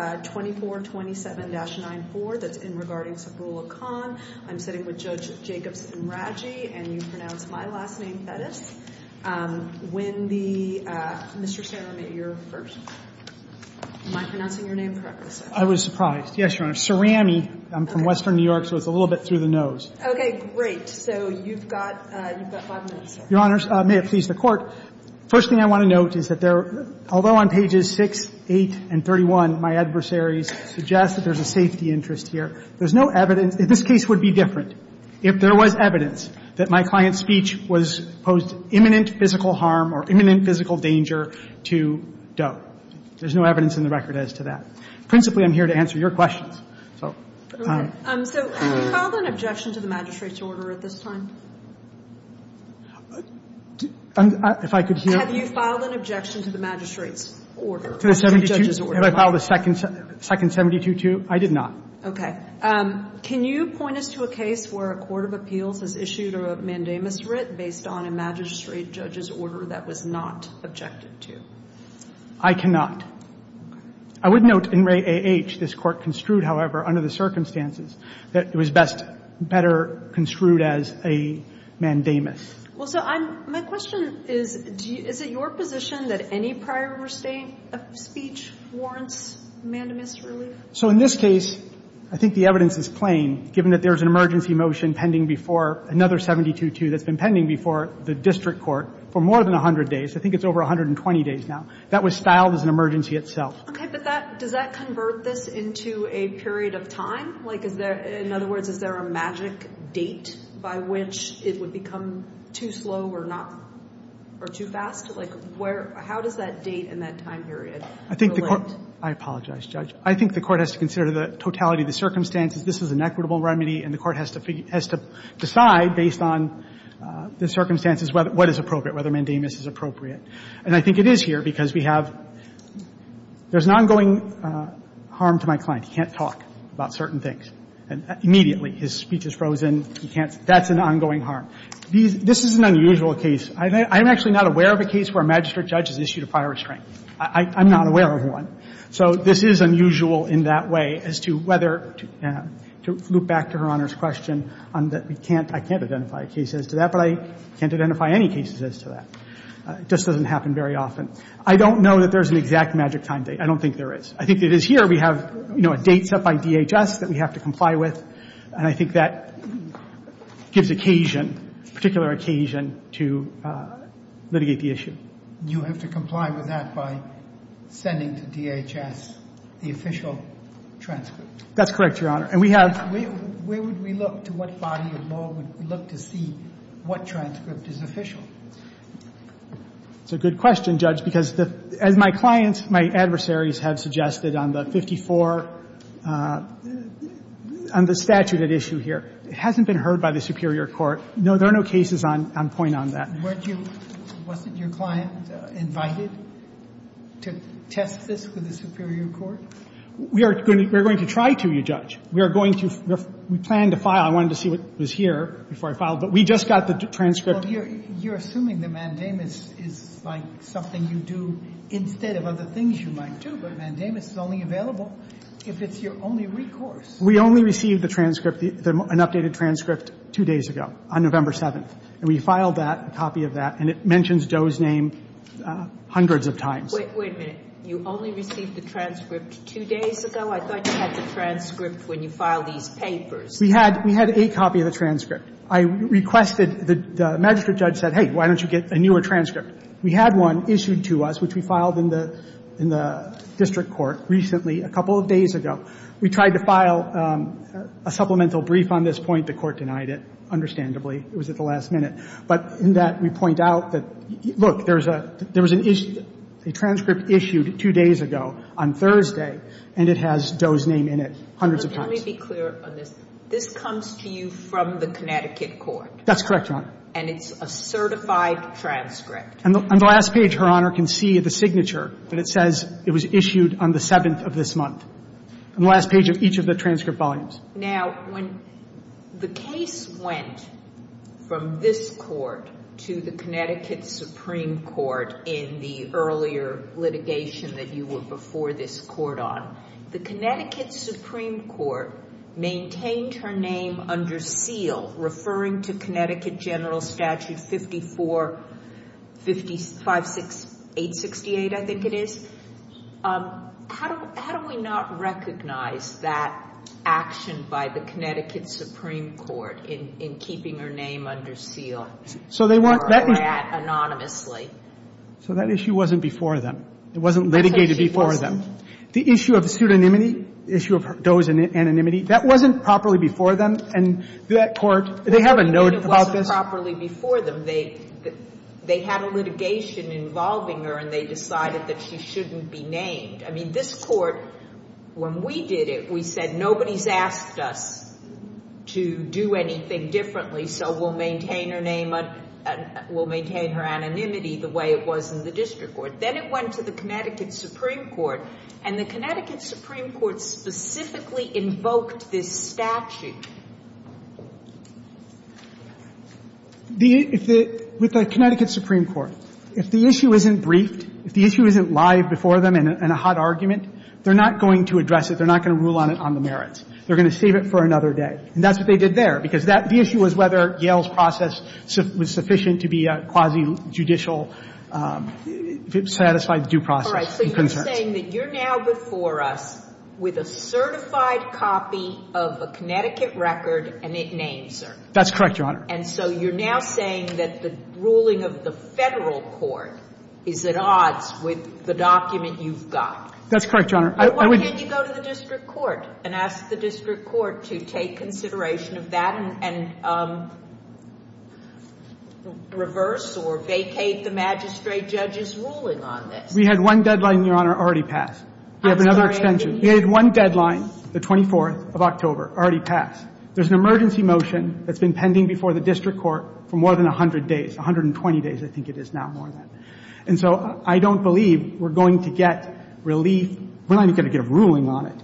2427-94, that's in regarding Saifullah Khan. I'm sitting with Judge Jacobson Radji, and you pronounce my last name, Thetis. When the, Mr. Chairman, you're first. Am I pronouncing your name correctly, sir? I was surprised. Yes, Your Honor. Cerami. I'm from western New York, so it's a little bit through the nose. Okay. Great. So you've got five minutes, sir. Your Honors, may it please the Court, first thing I want to note is that there, although on pages 6, 8, and 31, my adversaries suggest that there's a safety interest here. There's no evidence. This case would be different if there was evidence that my client's speech was, posed imminent physical harm or imminent physical danger to Doe. There's no evidence in the record as to that. Principally, I'm here to answer your questions, so. So have you filed an objection to the magistrate's order at this time? If I could hear? Have you filed an objection to the magistrate's order? To the 72? To the judge's order. Have I filed a second 72-2? I did not. Okay. Can you point us to a case where a court of appeals has issued a mandamus writ based on a magistrate judge's order that was not objected to? I cannot. I would note in Ray A.H. this Court construed, however, under the circumstances that it was best, better construed as a mandamus. Well, so I'm, my question is, do you, is it your position that any prior state of speech warrants mandamus relief? So in this case, I think the evidence is plain, given that there's an emergency motion pending before another 72-2 that's been pending before the district court for more than 100 days. I think it's over 120 days now. That was styled as an emergency itself. Okay, but that, does that convert this into a period of time? Like, is there, in other words, is there a magic date by which it would become too slow or not, or too fast? Like, where, how does that date and that time period relate? I think the court, I apologize, Judge. I think the court has to consider the totality of the circumstances. This is an equitable remedy, and the court has to decide, based on the circumstances, what is appropriate, whether mandamus is appropriate. And I think it is here, because we have, there's an ongoing harm to my client. He can't talk about certain things immediately. His speech is frozen. He can't, that's an ongoing harm. This is an unusual case. I'm actually not aware of a case where a magistrate judge has issued a prior restraint. I'm not aware of one. So this is unusual in that way as to whether, to loop back to Her Honor's question on that we can't, I can't identify a case as to that, but I can't identify any cases as to that. It just doesn't happen very often. I don't know that there's an exact magic time date. I don't think there is. I think it is here. We have, you know, a date set by DHS that we have to comply with. And I think that gives occasion, particular occasion, to litigate the issue. You have to comply with that by sending to DHS the official transcript. That's correct, Your Honor. And we have... Where would we look, to what body of law would we look to see what transcript is official? It's a good question, Judge, because as my clients, my adversaries have suggested on the 54, on the statute at issue here, it hasn't been heard by the superior court. No, there are no cases on point on that. Weren't you, wasn't your client invited to test this with the superior court? We are going to try to, Your Judge. We are going to, we planned to file. I wanted to see what was here before I filed. But we just got the transcript. Well, you're assuming the mandamus is like something you do instead of other things you might do. But mandamus is only available if it's your only recourse. We only received the transcript, an updated transcript, two days ago, on November 7th. And we filed that, a copy of that. And it mentions Doe's name hundreds of times. Wait a minute. You only received the transcript two days ago? I thought you had the transcript when you filed these papers. We had a copy of the transcript. I requested, the magistrate judge said, hey, why don't you get a newer transcript? We had one issued to us, which we filed in the district court recently, a couple of days ago. We tried to file a supplemental brief on this point. The court denied it, understandably. It was at the last minute. But in that, we point out that, look, there was an issue, a transcript issued two days ago on Thursday, and it has Doe's name in it hundreds of times. Let me be clear on this. This comes to you from the Connecticut court? That's correct, Your Honor. And it's a certified transcript? On the last page, Her Honor can see the signature. And it says it was issued on the 7th of this month, on the last page of each of the transcript volumes. Now, when the case went from this court to the Connecticut Supreme Court in the earlier litigation that you were before this court on, the Connecticut Supreme Court maintained her name under seal, referring to Connecticut General Statute 54, 56, 868, I think it is. How do we not recognize that action by the Connecticut Supreme Court in keeping her name under seal? So they weren't... Anonymously. So that issue wasn't before them. It wasn't litigated before them. The issue of pseudonymity, the issue of Doe's anonymity, that wasn't properly before them? And that court, they have a note about this? It wasn't properly before them. They had a litigation involving her and they decided that she shouldn't be named. I mean, this court, when we did it, we said nobody's asked us to do anything differently, so we'll maintain her name, we'll maintain her anonymity the way it was in the district court. Then it went to the Connecticut Supreme Court. And the Connecticut Supreme Court specifically invoked this statute. With the Connecticut Supreme Court, if the issue isn't briefed, if the issue isn't live before them in a hot argument, they're not going to address it. They're not going to rule on it on the merits. They're going to save it for another day. And that's what they did there, because the issue was whether Yale's process was sufficient to be quasi-judicial, if it satisfied the due process and concerns. You're saying that you're now before us with a certified copy of a Connecticut record and it names her? That's correct, Your Honor. And so you're now saying that the ruling of the federal court is at odds with the document you've got? That's correct, Your Honor. Why can't you go to the district court and ask the district court to take consideration of that and reverse or vacate the magistrate judge's ruling on this? We had one deadline, Your Honor, already passed. I'm sorry. We have another extension. We had one deadline, the 24th of October, already passed. There's an emergency motion that's been pending before the district court for more than 100 days, 120 days I think it is now more than. And so I don't believe we're going to get relief. We're not even going to get a ruling on it.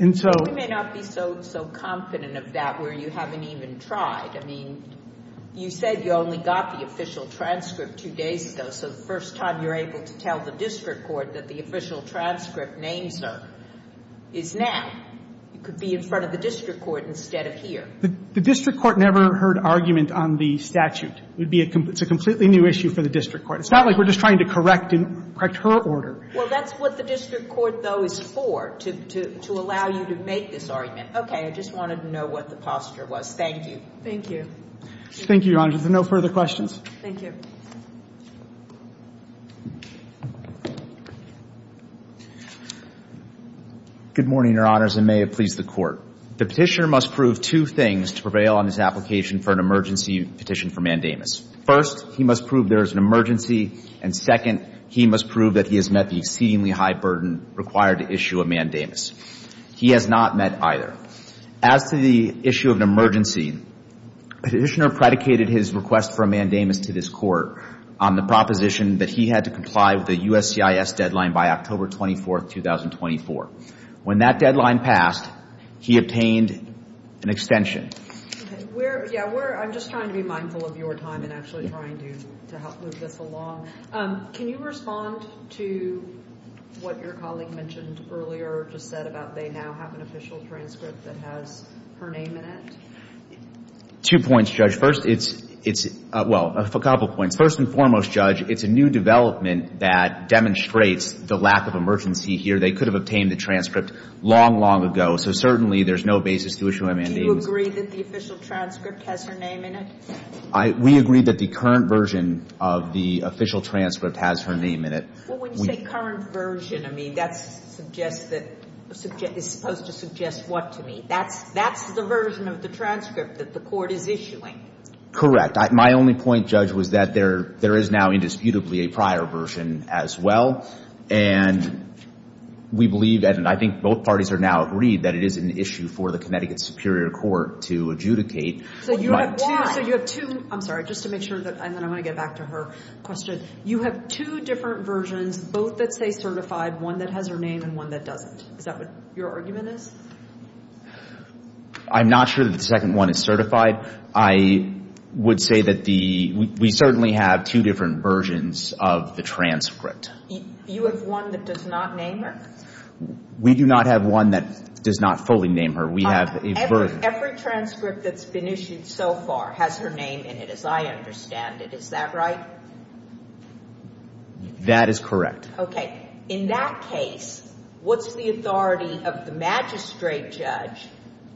And so... You may not be so confident of that where you haven't even tried. I mean, you said you only got the official transcript two days ago. So the first time you're able to tell the district court that the official transcript name, sir, is now, you could be in front of the district court instead of here. The district court never heard argument on the statute. It's a completely new issue for the district court. It's not like we're just trying to correct her order. Well, that's what the district court, though, is for, to allow you to make this argument. Okay, I just wanted to know what the posture was. Thank you. Thank you. Thank you, Your Honor. Is there no further questions? Thank you. Good morning, Your Honors, and may it please the Court. The petitioner must prove two things to prevail on his application for an emergency petition for mandamus. First, he must prove there is an emergency, and second, he must prove that he has met the exceedingly high burden required to issue a mandamus. He has not met either. As to the issue of an emergency, the petitioner predicated his request for a mandamus to this Court on the proposition that he had to comply with the USCIS deadline by October 24, 2024. When that deadline passed, he obtained an extension. Okay. Yeah, I'm just trying to be mindful of your time and actually trying to help move this along. Can you respond to what your colleague mentioned earlier or just said about they now have an official transcript that has her name in it? Two points, Judge. Well, a couple points. First and foremost, Judge, it's a new development that demonstrates the lack of emergency here. They could have obtained the transcript long, long ago, so certainly there's no basis to issue a mandamus. Do you agree that the official transcript has her name in it? We agree that the current version of the official transcript has her name in it. Well, when you say current version, I mean, that's supposed to suggest what to me? That's the version of the transcript that the Court is issuing. Correct. My only point, Judge, was that there is now indisputably a prior version as well. And we believe, and I think both parties are now agreed, that it is an issue for the Connecticut Superior Court to adjudicate. So you have two, I'm sorry, just to make sure, and then I'm going to get back to her question. You have two different versions, both that say certified, one that has her name and one that doesn't. Is that what your argument is? I'm not sure that the second one is certified. I would say that we certainly have two different versions of the transcript. You have one that does not name her? We do not have one that does not fully name her. We have a version. Every transcript that's been issued so far has her name in it, as I understand it. Is that right? That is correct. Okay. In that case, what's the authority of the magistrate judge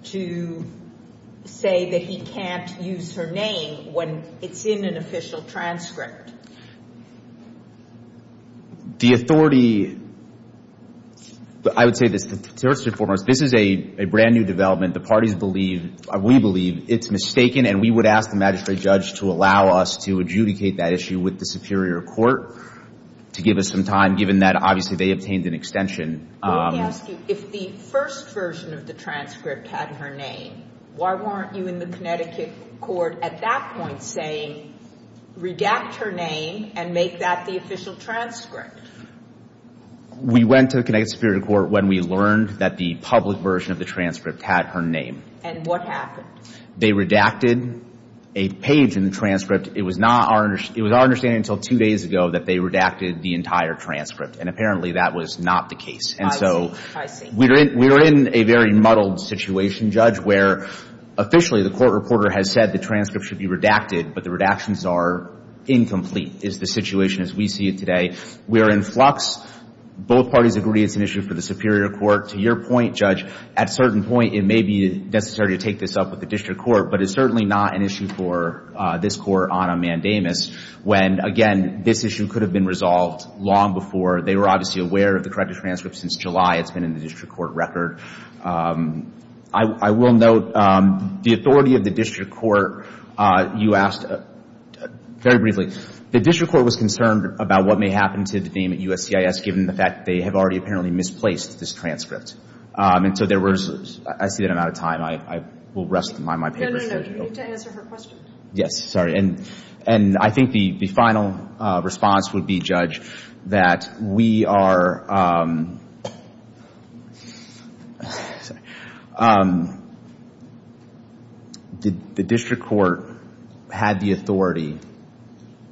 to say that he can't use her name when it's in an official transcript? The authority, I would say this, first and foremost, this is a brand new development. The parties believe, we believe it's mistaken, and we would ask the magistrate judge to allow us to adjudicate that issue with the superior court to give us some time, given that, obviously, they obtained an extension. Let me ask you, if the first version of the transcript had her name, why weren't you in the Connecticut court at that point saying, redact her name and make that the official transcript? We went to the Connecticut Superior Court when we learned that the public version of the transcript had her name. And what happened? They redacted a page in the transcript. It was our understanding until two days ago that they redacted the entire transcript. And apparently, that was not the case. I see. We are in a very muddled situation, Judge, where officially the court reporter has said the transcript should be redacted, but the redactions are incomplete, is the situation as we see it today. We are in flux. Both parties agree it's an issue for the superior court. To your point, Judge, at a certain point, it may be necessary to take this up with the district court, but it's certainly not an issue for this court on a mandamus, when, again, this issue could have been resolved long before. They were obviously aware of the corrected transcript since July. It's been in the district court record. I will note, the authority of the district court, you asked, very briefly, the district court was concerned about what may happen to the name at USCIS, given the fact they have already apparently misplaced this transcript. I see that I'm out of time. I will rest my papers. No, no, no. You need to answer her question. Yes. Sorry. And I think the final response would be, Judge, that the district court had the authority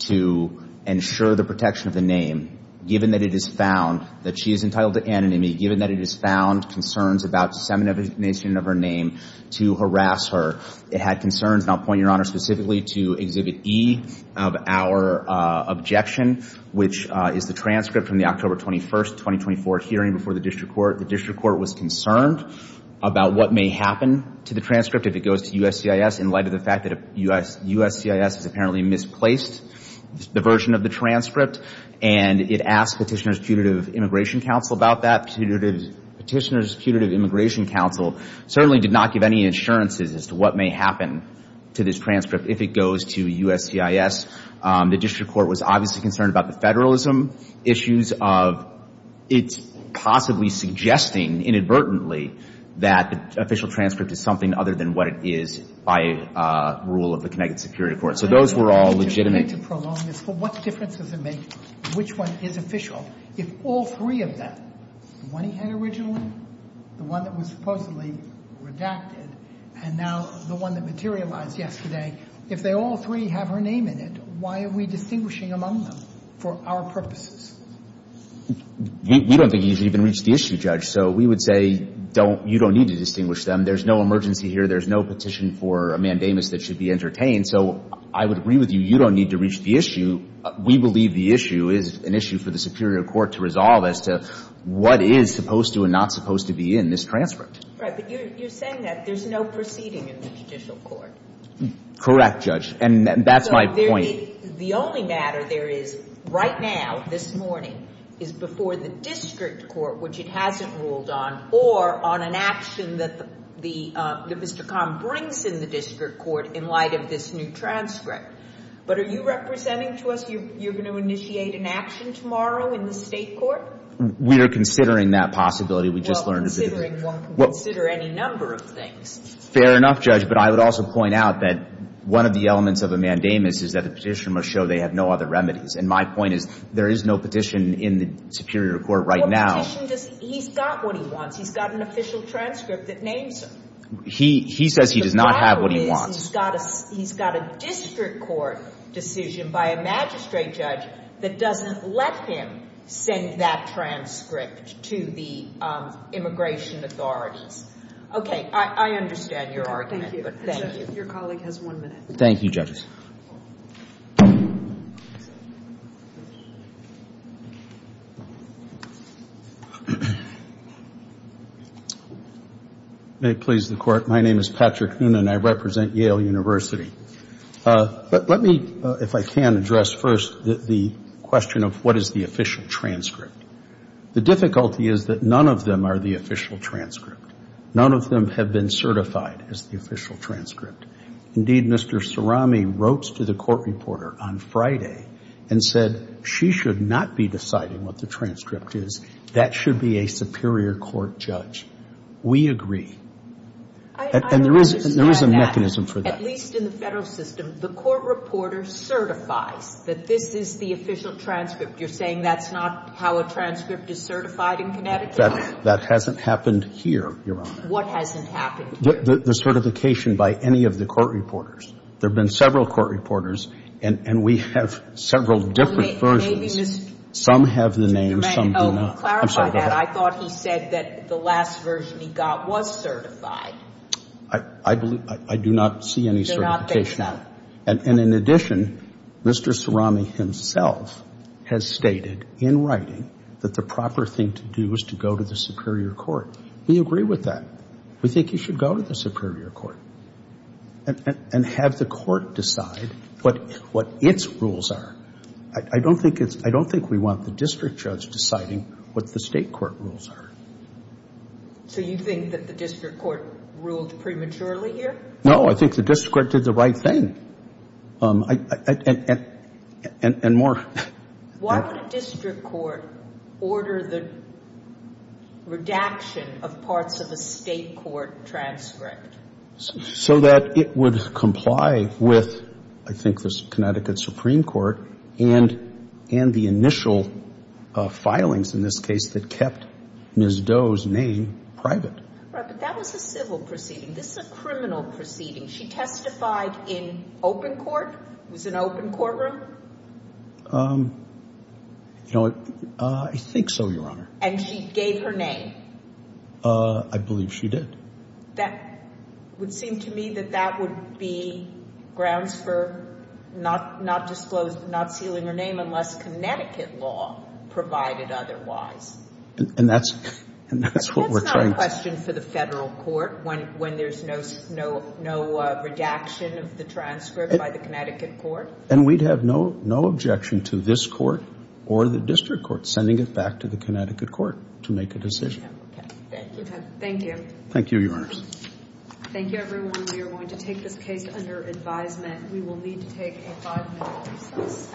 to ensure the protection of the name, given that it is found that she is entitled to anonymity, given that it is found concerns about dissemination of her name to harass her. It had concerns, and I'll point Your Honor specifically to Exhibit E of our objection, which is the transcript from the October 21st, 2024 hearing before the district court. The district court was concerned about what may happen to the transcript if it goes to USCIS has apparently misplaced the version of the transcript, and it asked Petitioner's Putative Immigration Counsel about that. Petitioner's Putative Immigration Counsel certainly did not give any insurances as to what may happen to this transcript if it goes to USCIS. The district court was obviously concerned about the federalism issues of it possibly suggesting inadvertently that the official transcript is something other than what it is by rule of the Connecticut Security Court. So those were all legitimate. Let me prolong this. What difference does it make which one is official? If all three of them, the one he had originally, the one that was supposedly redacted, and now the one that materialized yesterday, if they all three have her name in it, why are we distinguishing among them for our purposes? We don't think you should even reach the issue, Judge. So we would say you don't need to distinguish them. There's no emergency here. There's no petition for a mandamus that should be entertained. So I would agree with you, you don't need to reach the issue. We believe the issue is an issue for the superior court to resolve as to what is supposed to and not supposed to be in this transcript. Right. But you're saying that there's no proceeding in the judicial court. Correct, Judge. And that's my point. The only matter there is, right now, this morning, is before the district court, which it hasn't ruled on, or on an action that Mr. Kahn brings in the district court in light of this new transcript. But are you representing to us you're going to initiate an action tomorrow in the state court? We are considering that possibility. Well, considering one can consider any number of things. Fair enough, Judge. But I would also point out that one of the elements of a mandamus is that the petition must show they have no other remedies. And my point is, there is no petition in the superior court right now. What petition does, he's got what he wants. He's got an official transcript that names him. He says he does not have what he wants. The problem is, he's got a district court decision by a magistrate judge that doesn't let him send that transcript to the immigration authorities. Okay, I understand your argument. Thank you. Your colleague has one minute. Thank you, Judges. May it please the Court. My name is Patrick Noonan. I represent Yale University. Let me, if I can, address first the question of what is the official transcript. The difficulty is that none of them are the official transcript. None of them have been certified as the official transcript. Indeed, Mr. Sarami wrote to the court reporter on Friday and said she should not be deciding what the transcript is. That should be a superior court judge. We agree. And there is a mechanism for that. At least in the federal system, the court reporter certifies that this is the official transcript. You're saying that's not how a transcript is certified in Connecticut? That hasn't happened here, Your Honor. What hasn't happened? The certification by any of the court reporters. There have been several court reporters, and we have several different versions. Some have the name, some do not. Clarify that. I thought he said that the last version he got was certified. I do not see any certification. And in addition, Mr. Sarami himself has stated in writing that the proper thing to do is to go to the superior court. We agree with that. We think you should go to the superior court and have the court decide what its rules are. I don't think we want the district judge deciding what the state court rules are. So you think that the district court ruled prematurely here? No, I think the district court did the right thing. And more. Why would a district court order the redaction of parts of a state court transcript? So that it would comply with, I think, the Connecticut Supreme Court and the initial filings in this case that kept Ms. Doe's name private. Right, but that was a civil proceeding. This is a criminal proceeding. She testified in open court? It was an open courtroom? I think so, Your Honor. And she gave her name? I believe she did. It would seem to me that that would be grounds for not sealing her name unless Connecticut law provided otherwise. And that's what we're trying to... It's a question for the federal court when there's no redaction of the transcript by the Connecticut court? And we'd have no objection to this court or the district court sending it back to the Connecticut court to make a decision. Thank you. Thank you. Thank you, Your Honor. Thank you everyone. We are going to take this case under advisement. We will need to take a five-minute recess.